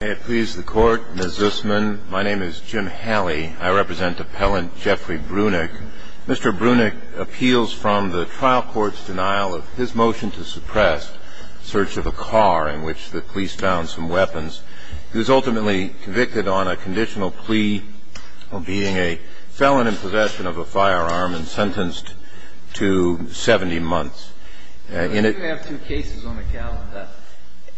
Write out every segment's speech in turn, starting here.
May it please the court, Ms. Zisman, my name is Jim Halley. I represent appellant Geoffrey Brunick. Mr. Brunick appeals from the trial court's denial of his motion to suppress search of a car in which the police found some weapons. He was ultimately convicted on a conditional plea of being a felon in possession of a firearm and sentenced to 70 months. If you have two cases on the calendar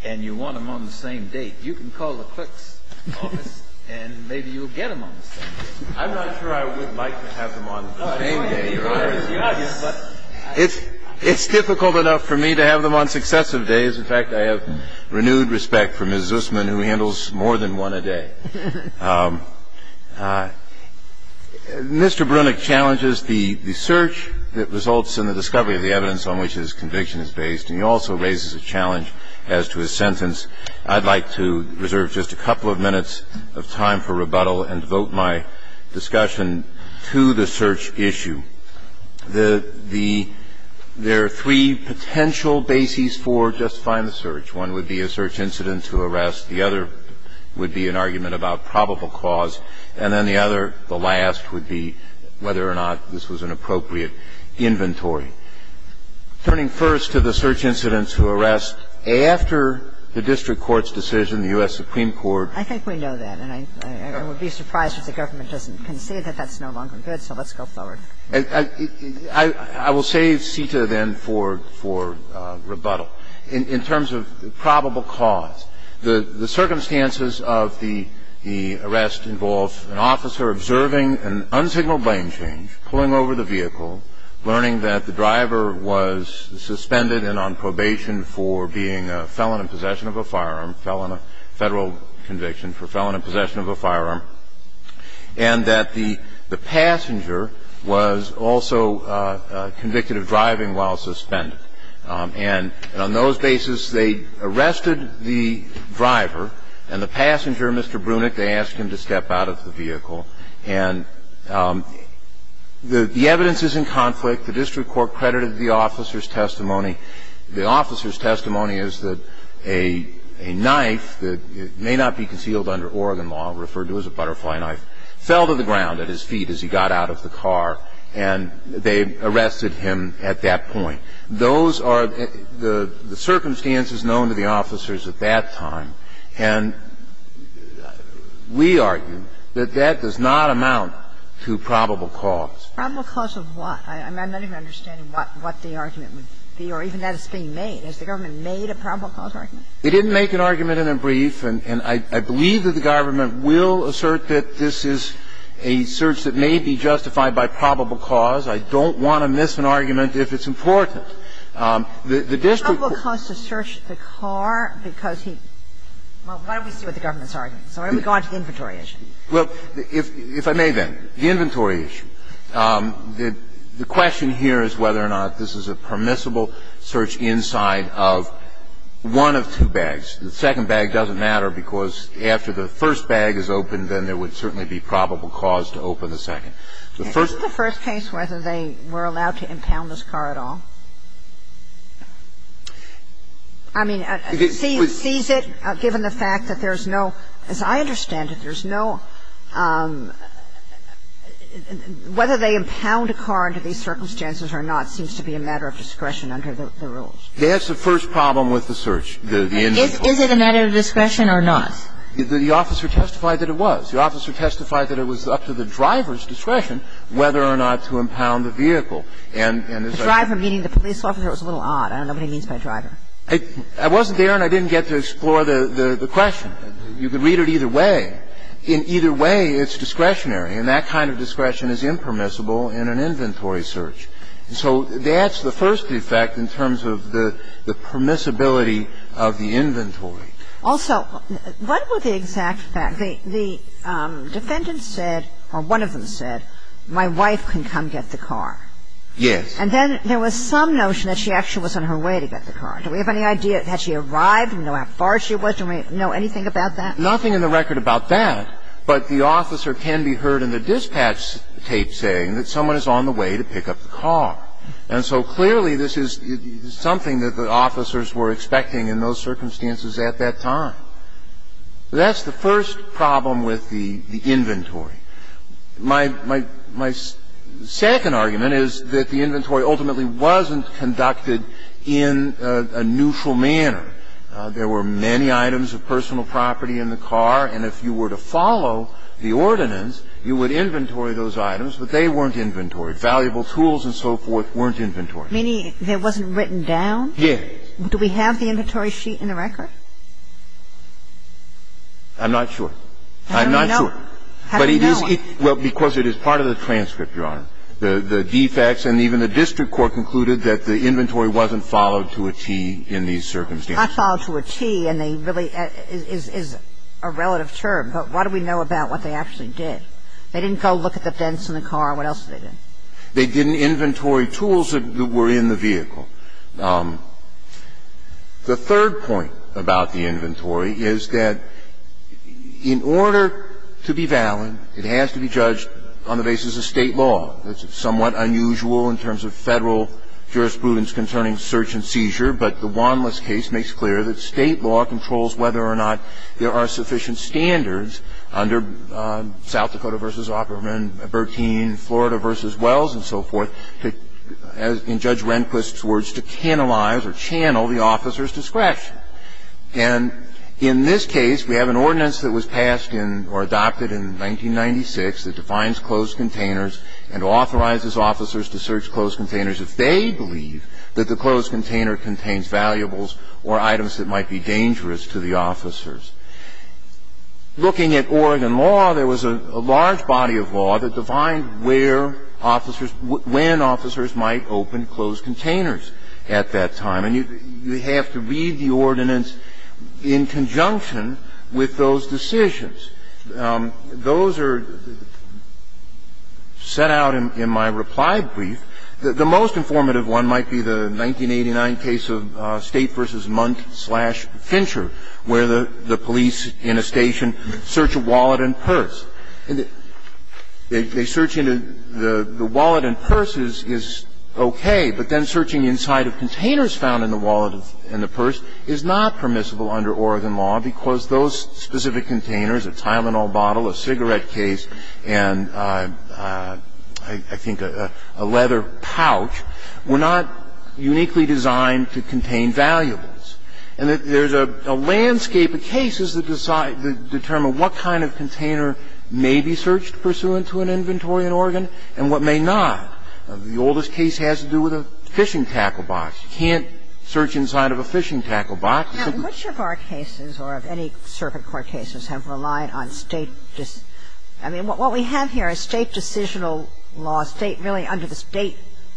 and you want them on the same date, you can call the clerk's office and maybe you'll get them on the same date. I'm not sure I would like to have them on the same day. It's difficult enough for me to have them on successive days. In fact, I have renewed respect for Ms. Zisman, who handles more than one a day. Mr. Brunick challenges the search that results in the discovery of the evidence on which his conviction is based. And he also raises a challenge as to his sentence. I'd like to reserve just a couple of minutes of time for rebuttal and devote my discussion to the search issue. There are three potential bases for justifying the search. One would be a search incident to arrest. The other would be an argument about probable cause. And then the other, the last, would be whether or not this was an appropriate inventory. Turning first to the search incident to arrest, after the district court's decision, the U.S. Supreme Court. I think we know that. And I would be surprised if the government doesn't concede that that's no longer good. So let's go forward. I will save CETA then for rebuttal. In terms of probable cause, the circumstances of the arrest involve an officer observing an unsignaled lane change, pulling over the vehicle, learning that the driver was suspended and on probation for being a felon in possession of a firearm, federal conviction for felon in possession of a firearm, and that the passenger was also convicted of driving while suspended. And on those bases, they arrested the driver, and the passenger, Mr. Brunick, they asked him to step out of the vehicle. And the evidence is in conflict. The district court credited the officer's testimony. The officer's testimony is that a knife that may not be concealed under Oregon law, referred to as a butterfly knife, fell to the ground at his feet as he got out of the car, and they arrested him at that point. Those are the circumstances known to the officers at that time. And we argue that that does not amount to probable cause. Probable cause of what? I'm not even understanding what the argument would be or even that it's being made. Has the government made a probable cause argument? They didn't make an argument in a brief, and I believe that the government will assert that this is a search that may be justified by probable cause. I don't want to miss an argument if it's important. The district court ---- The probable cause to search the car because he ---- well, why don't we see what the government's argument is. Why don't we go on to the inventory issue? Well, if I may, then. The inventory issue. The question here is whether or not this is a permissible search inside of one of two bags. The second bag doesn't matter because after the first bag is opened, then there would certainly be probable cause to open the second. The first ---- Isn't the first case whether they were allowed to impound this car at all? I mean, sees it, given the fact that there's no ---- as I understand it, there's no ---- whether they impound a car under these circumstances or not seems to be a matter of discretion under the rules. That's the first problem with the search, the inventory. Is it a matter of discretion or not? The officer testified that it was. The officer testified that it was up to the driver's discretion whether or not to impound the vehicle. And as I ---- The driver meeting the police officer was a little odd. I don't know what he means by driver. I wasn't there and I didn't get to explore the question. You could read it either way. In either way, it's discretionary. And that kind of discretion is impermissible in an inventory search. So that's the first effect in terms of the permissibility of the inventory. Also, what were the exact facts? The defendant said, or one of them said, my wife can come get the car. Yes. And then there was some notion that she actually was on her way to get the car. Do we have any idea that she arrived? Do we know how far she was? Do we know anything about that? Nothing in the record about that. But the officer can be heard in the dispatch tape saying that someone is on the way to pick up the car. And so clearly this is something that the officers were expecting in those circumstances at that time. That's the first problem with the inventory. My second argument is that the inventory ultimately wasn't conducted in a neutral manner. There were many items of personal property in the car, and if you were to follow the ordinance, you would inventory those items, but they weren't inventoried. Valuable tools and so forth weren't inventoried. Meaning it wasn't written down? Yes. Do we have the inventory sheet in the record? I'm not sure. I'm not sure. How do we know? Well, because it is part of the transcript, Your Honor. The defects and even the district court concluded that the inventory wasn't followed to a T in these circumstances. Not followed to a T, and they really is a relative term. But what do we know about what they actually did? They didn't go look at the vents in the car. What else did they do? They didn't inventory tools that were in the vehicle. The third point about the inventory is that in order to be valid, it has to be judged on the basis of State law. It's somewhat unusual in terms of Federal jurisprudence concerning search and seizure, but the Wanlis case makes clear that State law controls whether or not there are sufficient standards under South Dakota v. Opperman, Bertine, Florida v. Wells and so forth in Judge Rehnquist's words to channelize or channel the officer's discretion. And in this case, we have an ordinance that was passed in or adopted in 1996 that defines closed containers and authorizes officers to search closed containers if they believe that the closed container contains valuables or items that might be dangerous to the officers. Looking at Oregon law, there was a large body of law that defined where officers might open closed containers at that time. And you have to read the ordinance in conjunction with those decisions. Those are set out in my reply brief. The most informative one might be the 1989 case of State v. Munk v. Fincher, where the police in a station search a wallet and purse. They search in a the wallet and purse is okay, but then searching inside of containers found in the wallet and the purse is not permissible under Oregon law because those specific containers, a Tylenol bottle, a cigarette case, and I think a leather pouch, were not uniquely designed to contain valuables. And there's a landscape of cases that determine what kind of container may be searched pursuant to an inventory in Oregon and what may not. The oldest case has to do with a fishing tackle box. You can't search inside of a fishing tackle box. Now, which of our cases or of any circuit court cases have relied on State decision law? I mean, what we have here is State decisional law, State really under the State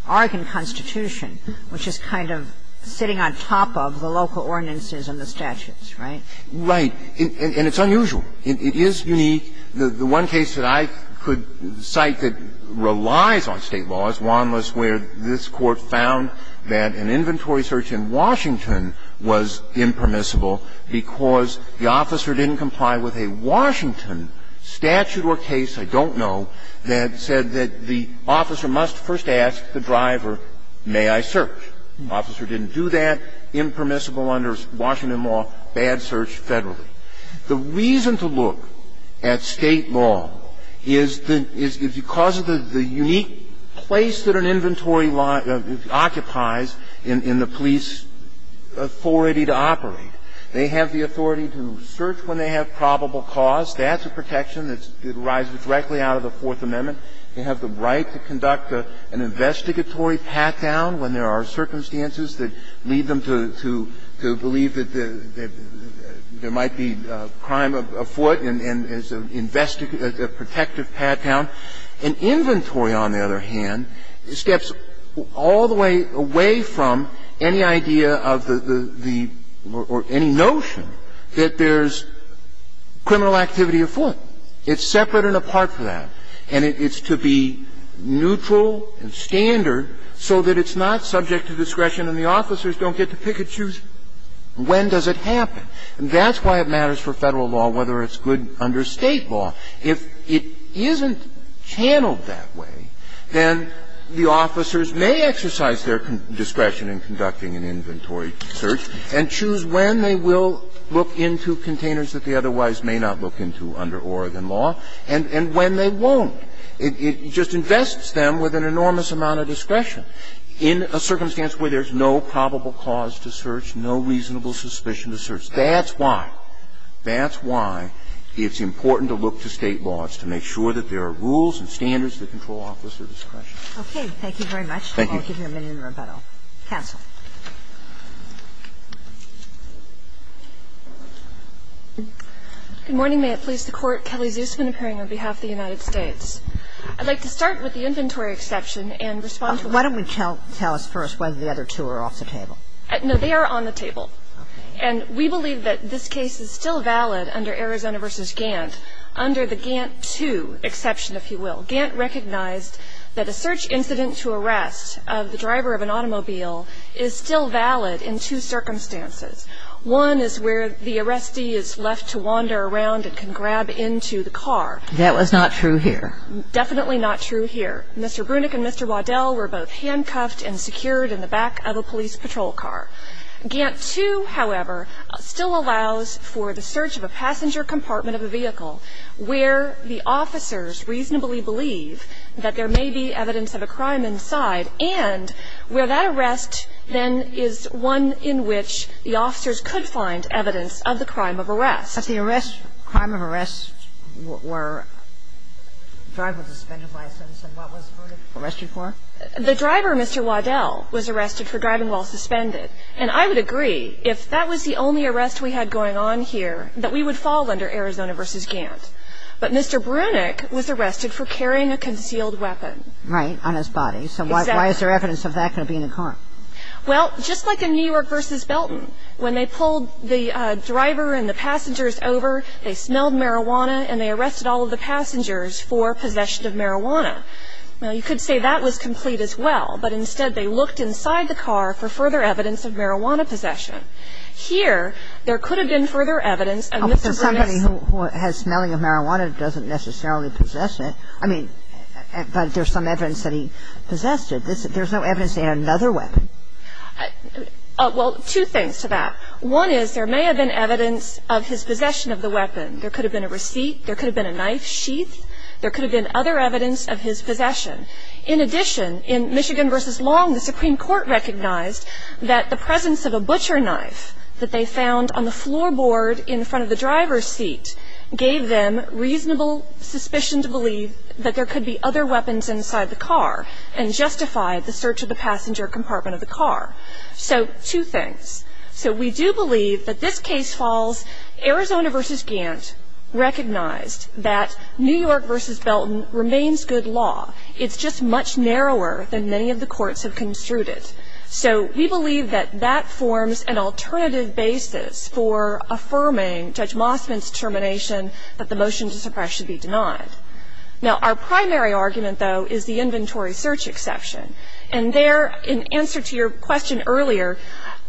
Oregon Constitution, which is kind of sitting on top of the local ordinances and the statutes, right? Right. And it's unusual. It is unique. The one case that I could cite that relies on State law is Juan Luis where this Court found that an inventory search in Washington was impermissible because the officer didn't comply with a Washington statute or case, I don't know, that said that the officer must first ask the driver, may I search? The officer didn't do that, impermissible under Washington law, bad search federally. The reason to look at State law is the unique place that an inventory occupies in the police authority to operate. They have the authority to search when they have probable cause. That's a protection that arises directly out of the Fourth Amendment. They have the right to conduct an investigatory pat-down when there are circumstances that lead them to believe that there might be a crime afoot and as an investigative or a protective pat-down. An inventory, on the other hand, steps all the way away from any idea of the the or any notion that there's criminal activity afoot. It's separate and apart from that. And it's to be neutral and standard so that it's not subject to discretion and the officers don't get to pick and choose when does it happen. That's why it matters for Federal law whether it's good under State law. If it isn't channeled that way, then the officers may exercise their discretion in conducting an inventory search and choose when they will look into containers that they otherwise may not look into under Oregon law and when they won't. It just invests them with an enormous amount of discretion in a circumstance where there's no probable cause to search, no reasonable suspicion to search. That's why. That's why it's important to look to State laws to make sure that there are rules and standards that control officer discretion. Okay. Thank you very much. I'll give you a minute in rebuttal. Counsel. Good morning. May it please the Court. Kelly Zusman appearing on behalf of the United States. I'd like to start with the inventory exception and respond to the other two. Why don't we tell us first whether the other two are off the table? No. They are on the table. And we believe that this case is still valid under Arizona v. Gantt under the Gantt 2 exception, if you will. Gantt recognized that a search incident to arrest of the driver of an automobile is still valid in two circumstances. One is where the arrestee is left to wander around and can grab into the car. That was not true here. Definitely not true here. Mr. Brunick and Mr. Waddell were both handcuffed and secured in the back of a police patrol car. Gantt 2, however, still allows for the search of a passenger compartment of a vehicle where the officers reasonably believe that there may be evidence of a crime inside and where that arrest then is one in which the officers could find evidence of the crime of arrest. But the arrest, crime of arrest were driver with a suspended license. And what was Brunick arrested for? The driver, Mr. Waddell, was arrested for driving while suspended. And I would agree, if that was the only arrest we had going on here, that we would fall under Arizona v. Gantt. But Mr. Brunick was arrested for carrying a concealed weapon. Right, on his body. Exactly. So why is there evidence of that going to be in the car? Well, just like in New York v. Belton, when they pulled the driver and the passengers over, they smelled marijuana and they arrested all of the passengers for possession of marijuana. Now, you could say that was complete as well. But instead, they looked inside the car for further evidence of marijuana possession. Here, there could have been further evidence of Mr. Brunick's ---- Oh, but somebody who has smelling of marijuana doesn't necessarily possess it. I mean, but there's some evidence that he possessed it. There's no evidence that he had another weapon. Well, two things to that. One is there may have been evidence of his possession of the weapon. There could have been a receipt. There could have been a knife sheath. There could have been other evidence of his possession. In addition, in Michigan v. Long, the Supreme Court recognized that the presence of a butcher knife that they found on the floorboard in front of the driver's seat gave them reasonable suspicion to believe that there could be other weapons inside the car and justified the search of the passenger compartment of the car. So two things. So we do believe that this case falls. Arizona v. Gant recognized that New York v. Belton remains good law. It's just much narrower than many of the courts have construed it. So we believe that that forms an alternative basis for affirming Judge Mossman's determination that the motion to suppress should be denied. Now, our primary argument, though, is the inventory search exception. And there, in answer to your question earlier,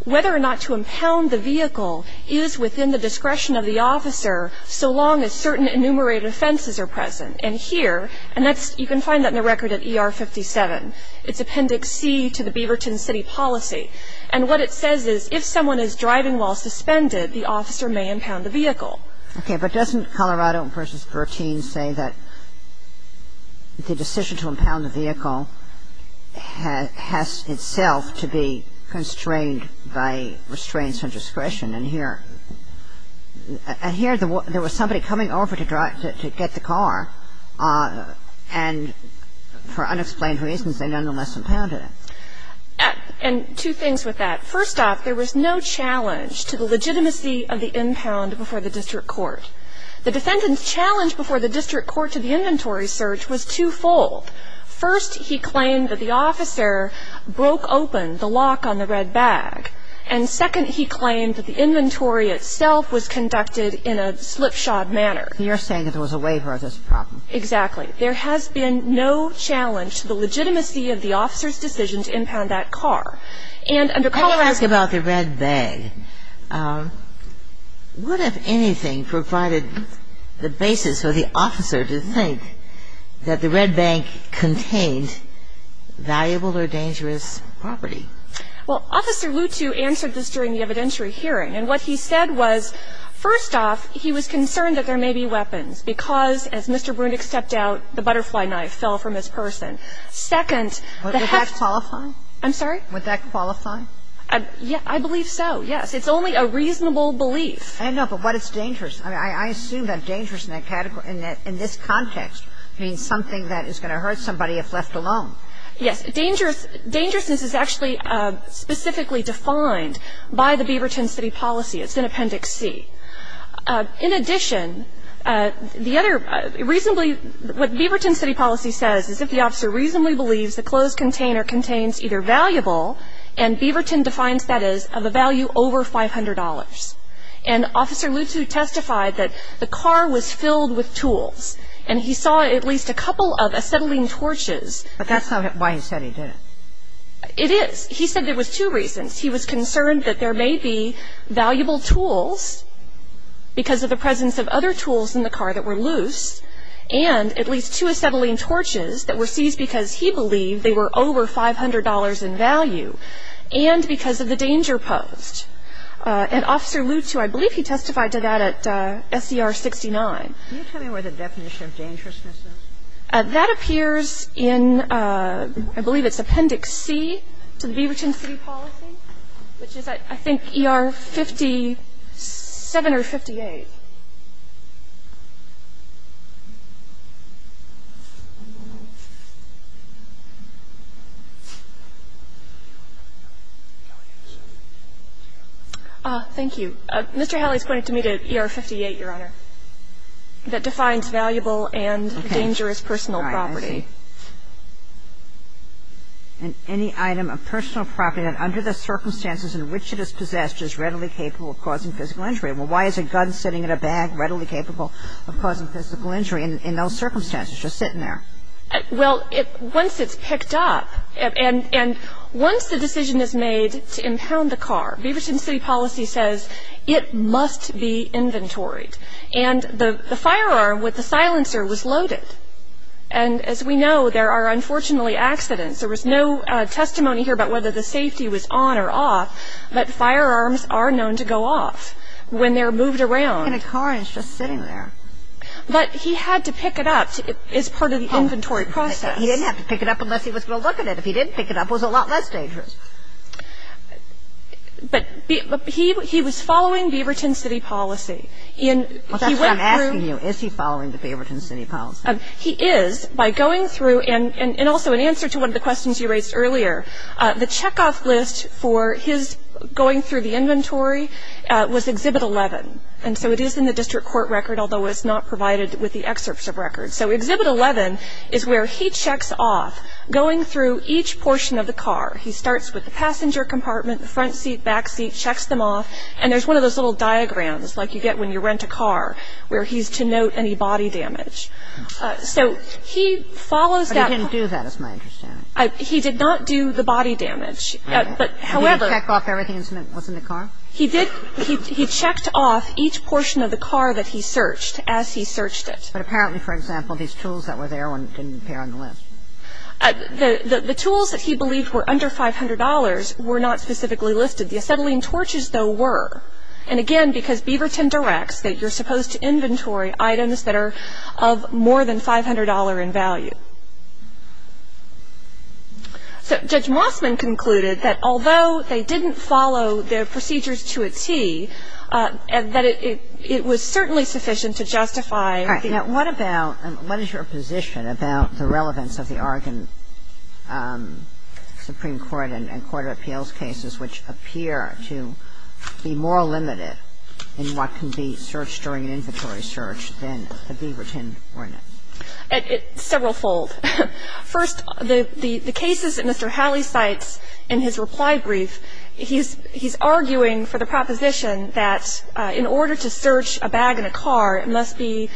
whether or not to impound the vehicle is within the discretion of the officer so long as certain enumerated offenses are present. And here, and that's you can find that in the record at ER 57, it's Appendix C to the Beaverton City Policy. And what it says is if someone is driving while suspended, the officer may impound the vehicle. Okay, but doesn't Colorado v. Bertine say that the decision to impound the vehicle has itself to be constrained by restraints on discretion? And here there was somebody coming over to get the car, and for unexplained reasons, they nonetheless impounded it. And two things with that. First off, there was no challenge to the legitimacy of the impound before the district court. The defendant's challenge before the district court to the inventory search was twofold. First, he claimed that the officer broke open the lock on the red bag. And second, he claimed that the inventory itself was conducted in a slipshod manner. You're saying that there was a waiver of this problem. Exactly. There has been no challenge to the legitimacy of the officer's decision to impound that car. And under Colorado's law ---- Let me ask you about the red bag. What, if anything, provided the basis for the officer to think that the red bag contained valuable or dangerous property? Well, Officer Lutu answered this during the evidentiary hearing. And what he said was, first off, he was concerned that there may be weapons, because as Mr. Brunick stepped out, the butterfly knife fell from his person. Second, the hefty ---- Would that qualify? I'm sorry? Would that qualify? I believe so, yes. It's only a reasonable belief. I know, but what is dangerous? I mean, I assume that dangerous in that category, in this context, means something that is going to hurt somebody if left alone. Yes. Dangerousness is actually specifically defined by the Beaverton City Policy. It's in Appendix C. In addition, the other reasonably ---- What Beaverton City Policy says is if the officer reasonably believes the closed container contains either valuable, and Beaverton defines that as of a value over $500. And Officer Lutu testified that the car was filled with tools, and he saw at least a couple of acetylene torches. But that's not why he said he did it. It is. He said there was two reasons. He was concerned that there may be valuable tools because of the presence of other tools in the car that were loose, and at least two acetylene torches that were seized because he believed they were over $500 in value, and because of the danger posed. And Officer Lutu, I believe he testified to that at SCR 69. Can you tell me where the definition of dangerousness is? That appears in, I believe it's Appendix C to the Beaverton City Policy, which is I think ER 57 or 58. Thank you. Mr. Hallie's pointing to me to ER 58, Your Honor, that defines valuable and dangerous personal property. And any item of personal property that under the circumstances in which it is possessed is readily capable of causing physical injury. Well, why is a gun sitting in a bag readily capable of causing physical injury in those circumstances, just sitting there? Well, once it's picked up, and once the decision is made to impound the car, Beaverton City Policy says it must be inventoried. And the firearm with the silencer was loaded. And as we know, there are unfortunately accidents. There was no testimony here about whether the safety was on or off, but firearms are known to go off when they're moved around. In a car and it's just sitting there. But he had to pick it up as part of the inventory process. He didn't have to pick it up unless he was going to look at it. If he didn't pick it up, it was a lot less dangerous. But he was following Beaverton City Policy. Well, that's what I'm asking you. Is he following the Beaverton City Policy? He is. By going through, and also in answer to one of the questions you raised earlier, the checkoff list for his going through the inventory was Exhibit 11. And so it is in the district court record, although it's not provided with the excerpt of records. So Exhibit 11 is where he checks off going through each portion of the car. He starts with the passenger compartment, the front seat, back seat, checks them off, and there's one of those little diagrams like you get when you rent a car, where he's to note any body damage. So he follows that. But he didn't do that, is my understanding. He did not do the body damage. But, however. He didn't check off everything that was in the car? He did. He checked off each portion of the car that he searched as he searched it. But apparently, for example, these tools that were there didn't appear on the list. The tools that he believed were under $500 were not specifically listed. The acetylene torches, though, were. And, again, because Beaverton directs that you're supposed to inventory items that are of more than $500 in value. So Judge Mossman concluded that although they didn't follow the procedures to a T, that it was certainly sufficient to justify the case. Kagan. And I'm going to ask you a question about the case of the Oregon Supreme Court and court of appeals cases, which appear to be more limited in what can be searched during an inventory search than the Beaverton ordinance. Several fold. First, the cases that Mr. Halley cites in his reply brief, he's arguing for the proposition that in order to search a bag in a car, it must be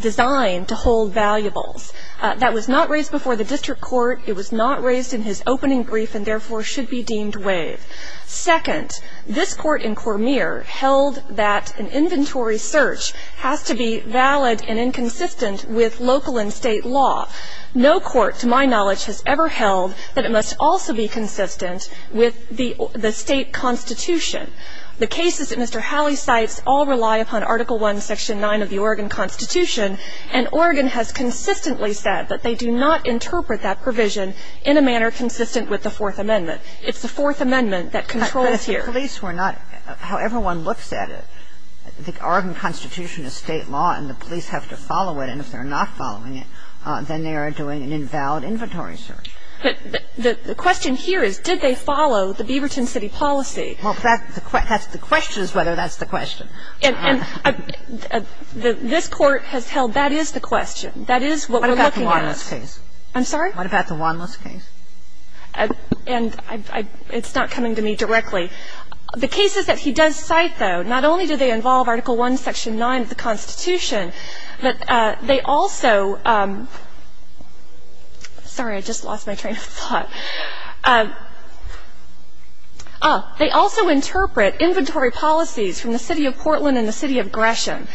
designed to hold valuables. That was not raised before the district court. It was not raised in his opening brief and, therefore, should be deemed waive. Second, this court in Cormier held that an inventory search has to be valid and inconsistent with local and state law. No court, to my knowledge, has ever held that it must also be consistent with the state constitution. The cases that Mr. Halley cites all rely upon Article I, Section 9 of the Oregon Constitution, and Oregon has consistently said that they do not interpret that provision in a manner consistent with the Fourth Amendment. It's the Fourth Amendment that controls here. But if the police were not, however one looks at it, the Oregon Constitution is state law and the police have to follow it, and if they're not following it, then they are doing an invalid inventory search. But the question here is, did they follow the Beaverton City policy? Well, that's the question is whether that's the question. And this Court has held that is the question. That is what we're looking at. What about the Wanless case? I'm sorry? What about the Wanless case? And it's not coming to me directly. The cases that he does cite, though, not only do they involve Article I, Section 9 of the Constitution, but they also – sorry, I just lost my train of thought. Oh, they also interpret inventory policies from the City of Portland and the City of Gresham.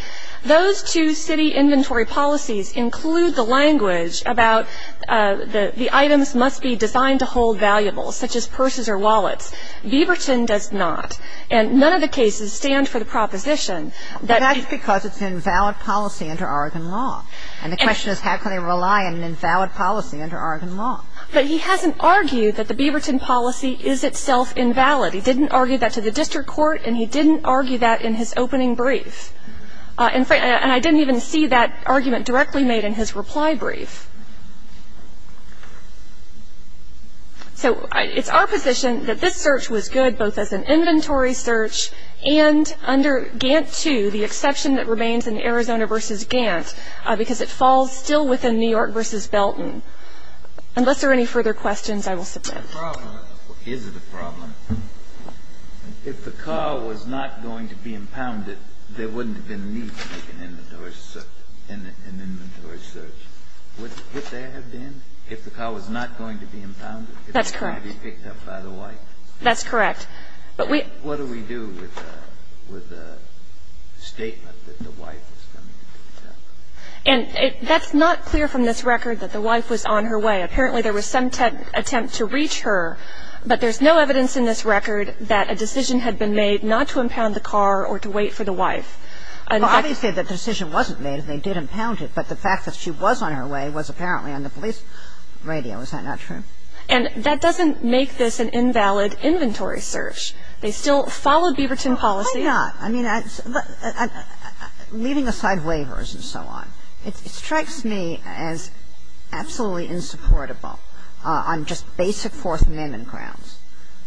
Those two city inventory policies include the language about the items must be designed to hold valuables, such as purses or wallets. Beaverton does not. And none of the cases stand for the proposition that – But that's because it's an invalid policy under Oregon law. And the question is, how can they rely on an invalid policy under Oregon law? But he hasn't argued that the Beaverton policy is itself invalid. He didn't argue that to the district court, and he didn't argue that in his opening brief. And I didn't even see that argument directly made in his reply brief. So it's our position that this search was good, both as an inventory search and under Gantt 2, the exception that remains in Arizona v. Gantt, because it falls still within New York v. Belton. Unless there are any further questions, I will submit. Is it a problem? If the car was not going to be impounded, there wouldn't have been a need to make an inventory search. Would there have been, if the car was not going to be impounded? That's correct. It's going to be picked up by the wife. That's correct. But we – What do we do with the statement that the wife is going to be picked up? And that's not clear from this record that the wife was on her way. Apparently, there was some attempt to reach her, but there's no evidence in this record that a decision had been made not to impound the car or to wait for the wife. Well, obviously, the decision wasn't made, and they did impound it, but the fact that she was on her way was apparently on the police radio. Is that not true? And that doesn't make this an invalid inventory search. They still followed Beaverton policy. Why not? I mean, leaving aside waivers and so on, it strikes me as absolutely insupportable on just basic Fourth Amendment grounds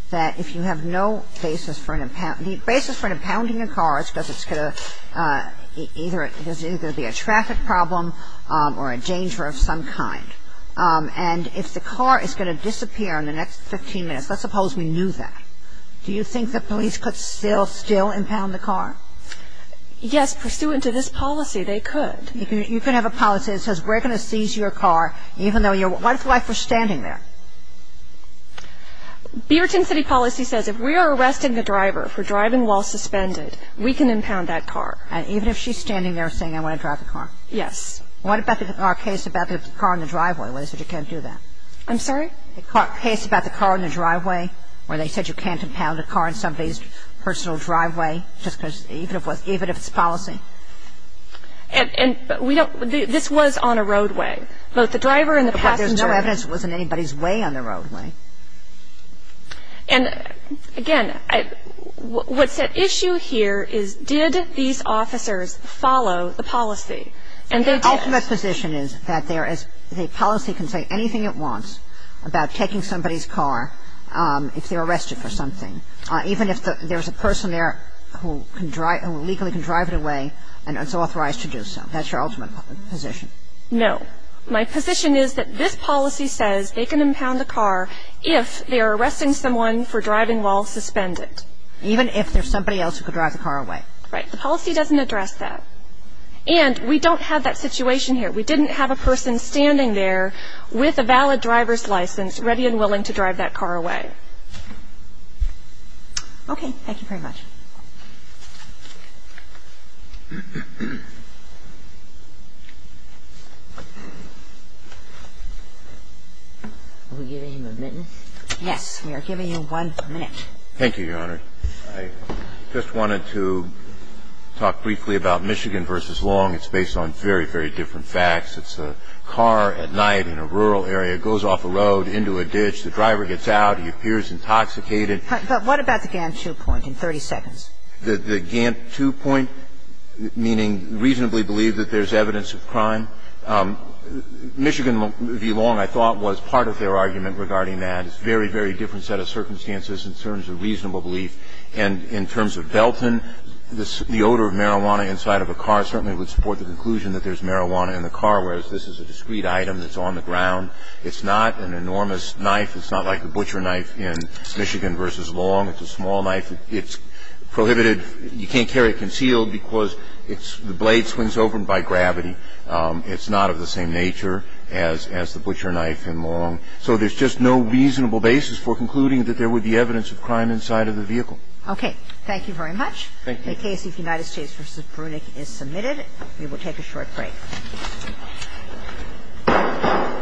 that if you have no basis for an – the basis for impounding a car is because it's going to – either it's going to be a traffic problem or a danger of some kind. And if the car is going to disappear in the next 15 minutes, let's suppose we knew that, do you think the police could still, still impound the car? Yes. Pursuant to this policy, they could. You can have a policy that says we're going to seize your car even though your wife was standing there. Beaverton City policy says if we are arresting the driver for driving while suspended, we can impound that car. Even if she's standing there saying I want to drive the car? Yes. What about our case about the car in the driveway where they said you can't do that? I'm sorry? The case about the car in the driveway where they said you can't impound a car in somebody's personal driveway just because – even if it's policy? And we don't – this was on a roadway. Both the driver and the passenger. But there's no evidence it was in anybody's way on the roadway. And, again, what's at issue here is did these officers follow the policy? And they did. My ultimate position is that there is – the policy can say anything it wants about taking somebody's car if they're arrested for something. Even if there's a person there who can – who legally can drive it away and is authorized to do so. That's your ultimate position. No. My position is that this policy says they can impound a car if they are arresting someone for driving while suspended. Even if there's somebody else who could drive the car away. Right. The policy doesn't address that. And we don't have that situation here. We didn't have a person standing there with a valid driver's license ready and willing to drive that car away. Okay. Thank you very much. Are we giving him a minute? Yes. We are giving him one minute. Thank you, Your Honor. I just wanted to talk briefly about Michigan v. Long. It's based on very, very different facts. It's a car at night in a rural area. It goes off a road into a ditch. The driver gets out. He appears intoxicated. But what about the Gantt 2 point in 30 seconds? The Gantt 2 point, meaning reasonably believe that there's evidence of crime. Michigan v. Long, I thought, was part of their argument regarding that. It's a very, very different set of circumstances in terms of reasonable belief. And in terms of Belton, the odor of marijuana inside of a car certainly would support the conclusion that there's marijuana in the car, whereas this is a discreet item that's on the ground. It's not an enormous knife. It's not like the butcher knife in Michigan v. Long. It's a small knife. It's prohibited. You can't carry it concealed because the blade swings open by gravity. It's not of the same nature as the butcher knife in Long. So there's just no reasonable basis for concluding that there would be evidence of crime inside of the vehicle. Okay. Thank you very much. Thank you. The case of United States v. Brunich is submitted. We will take a short break.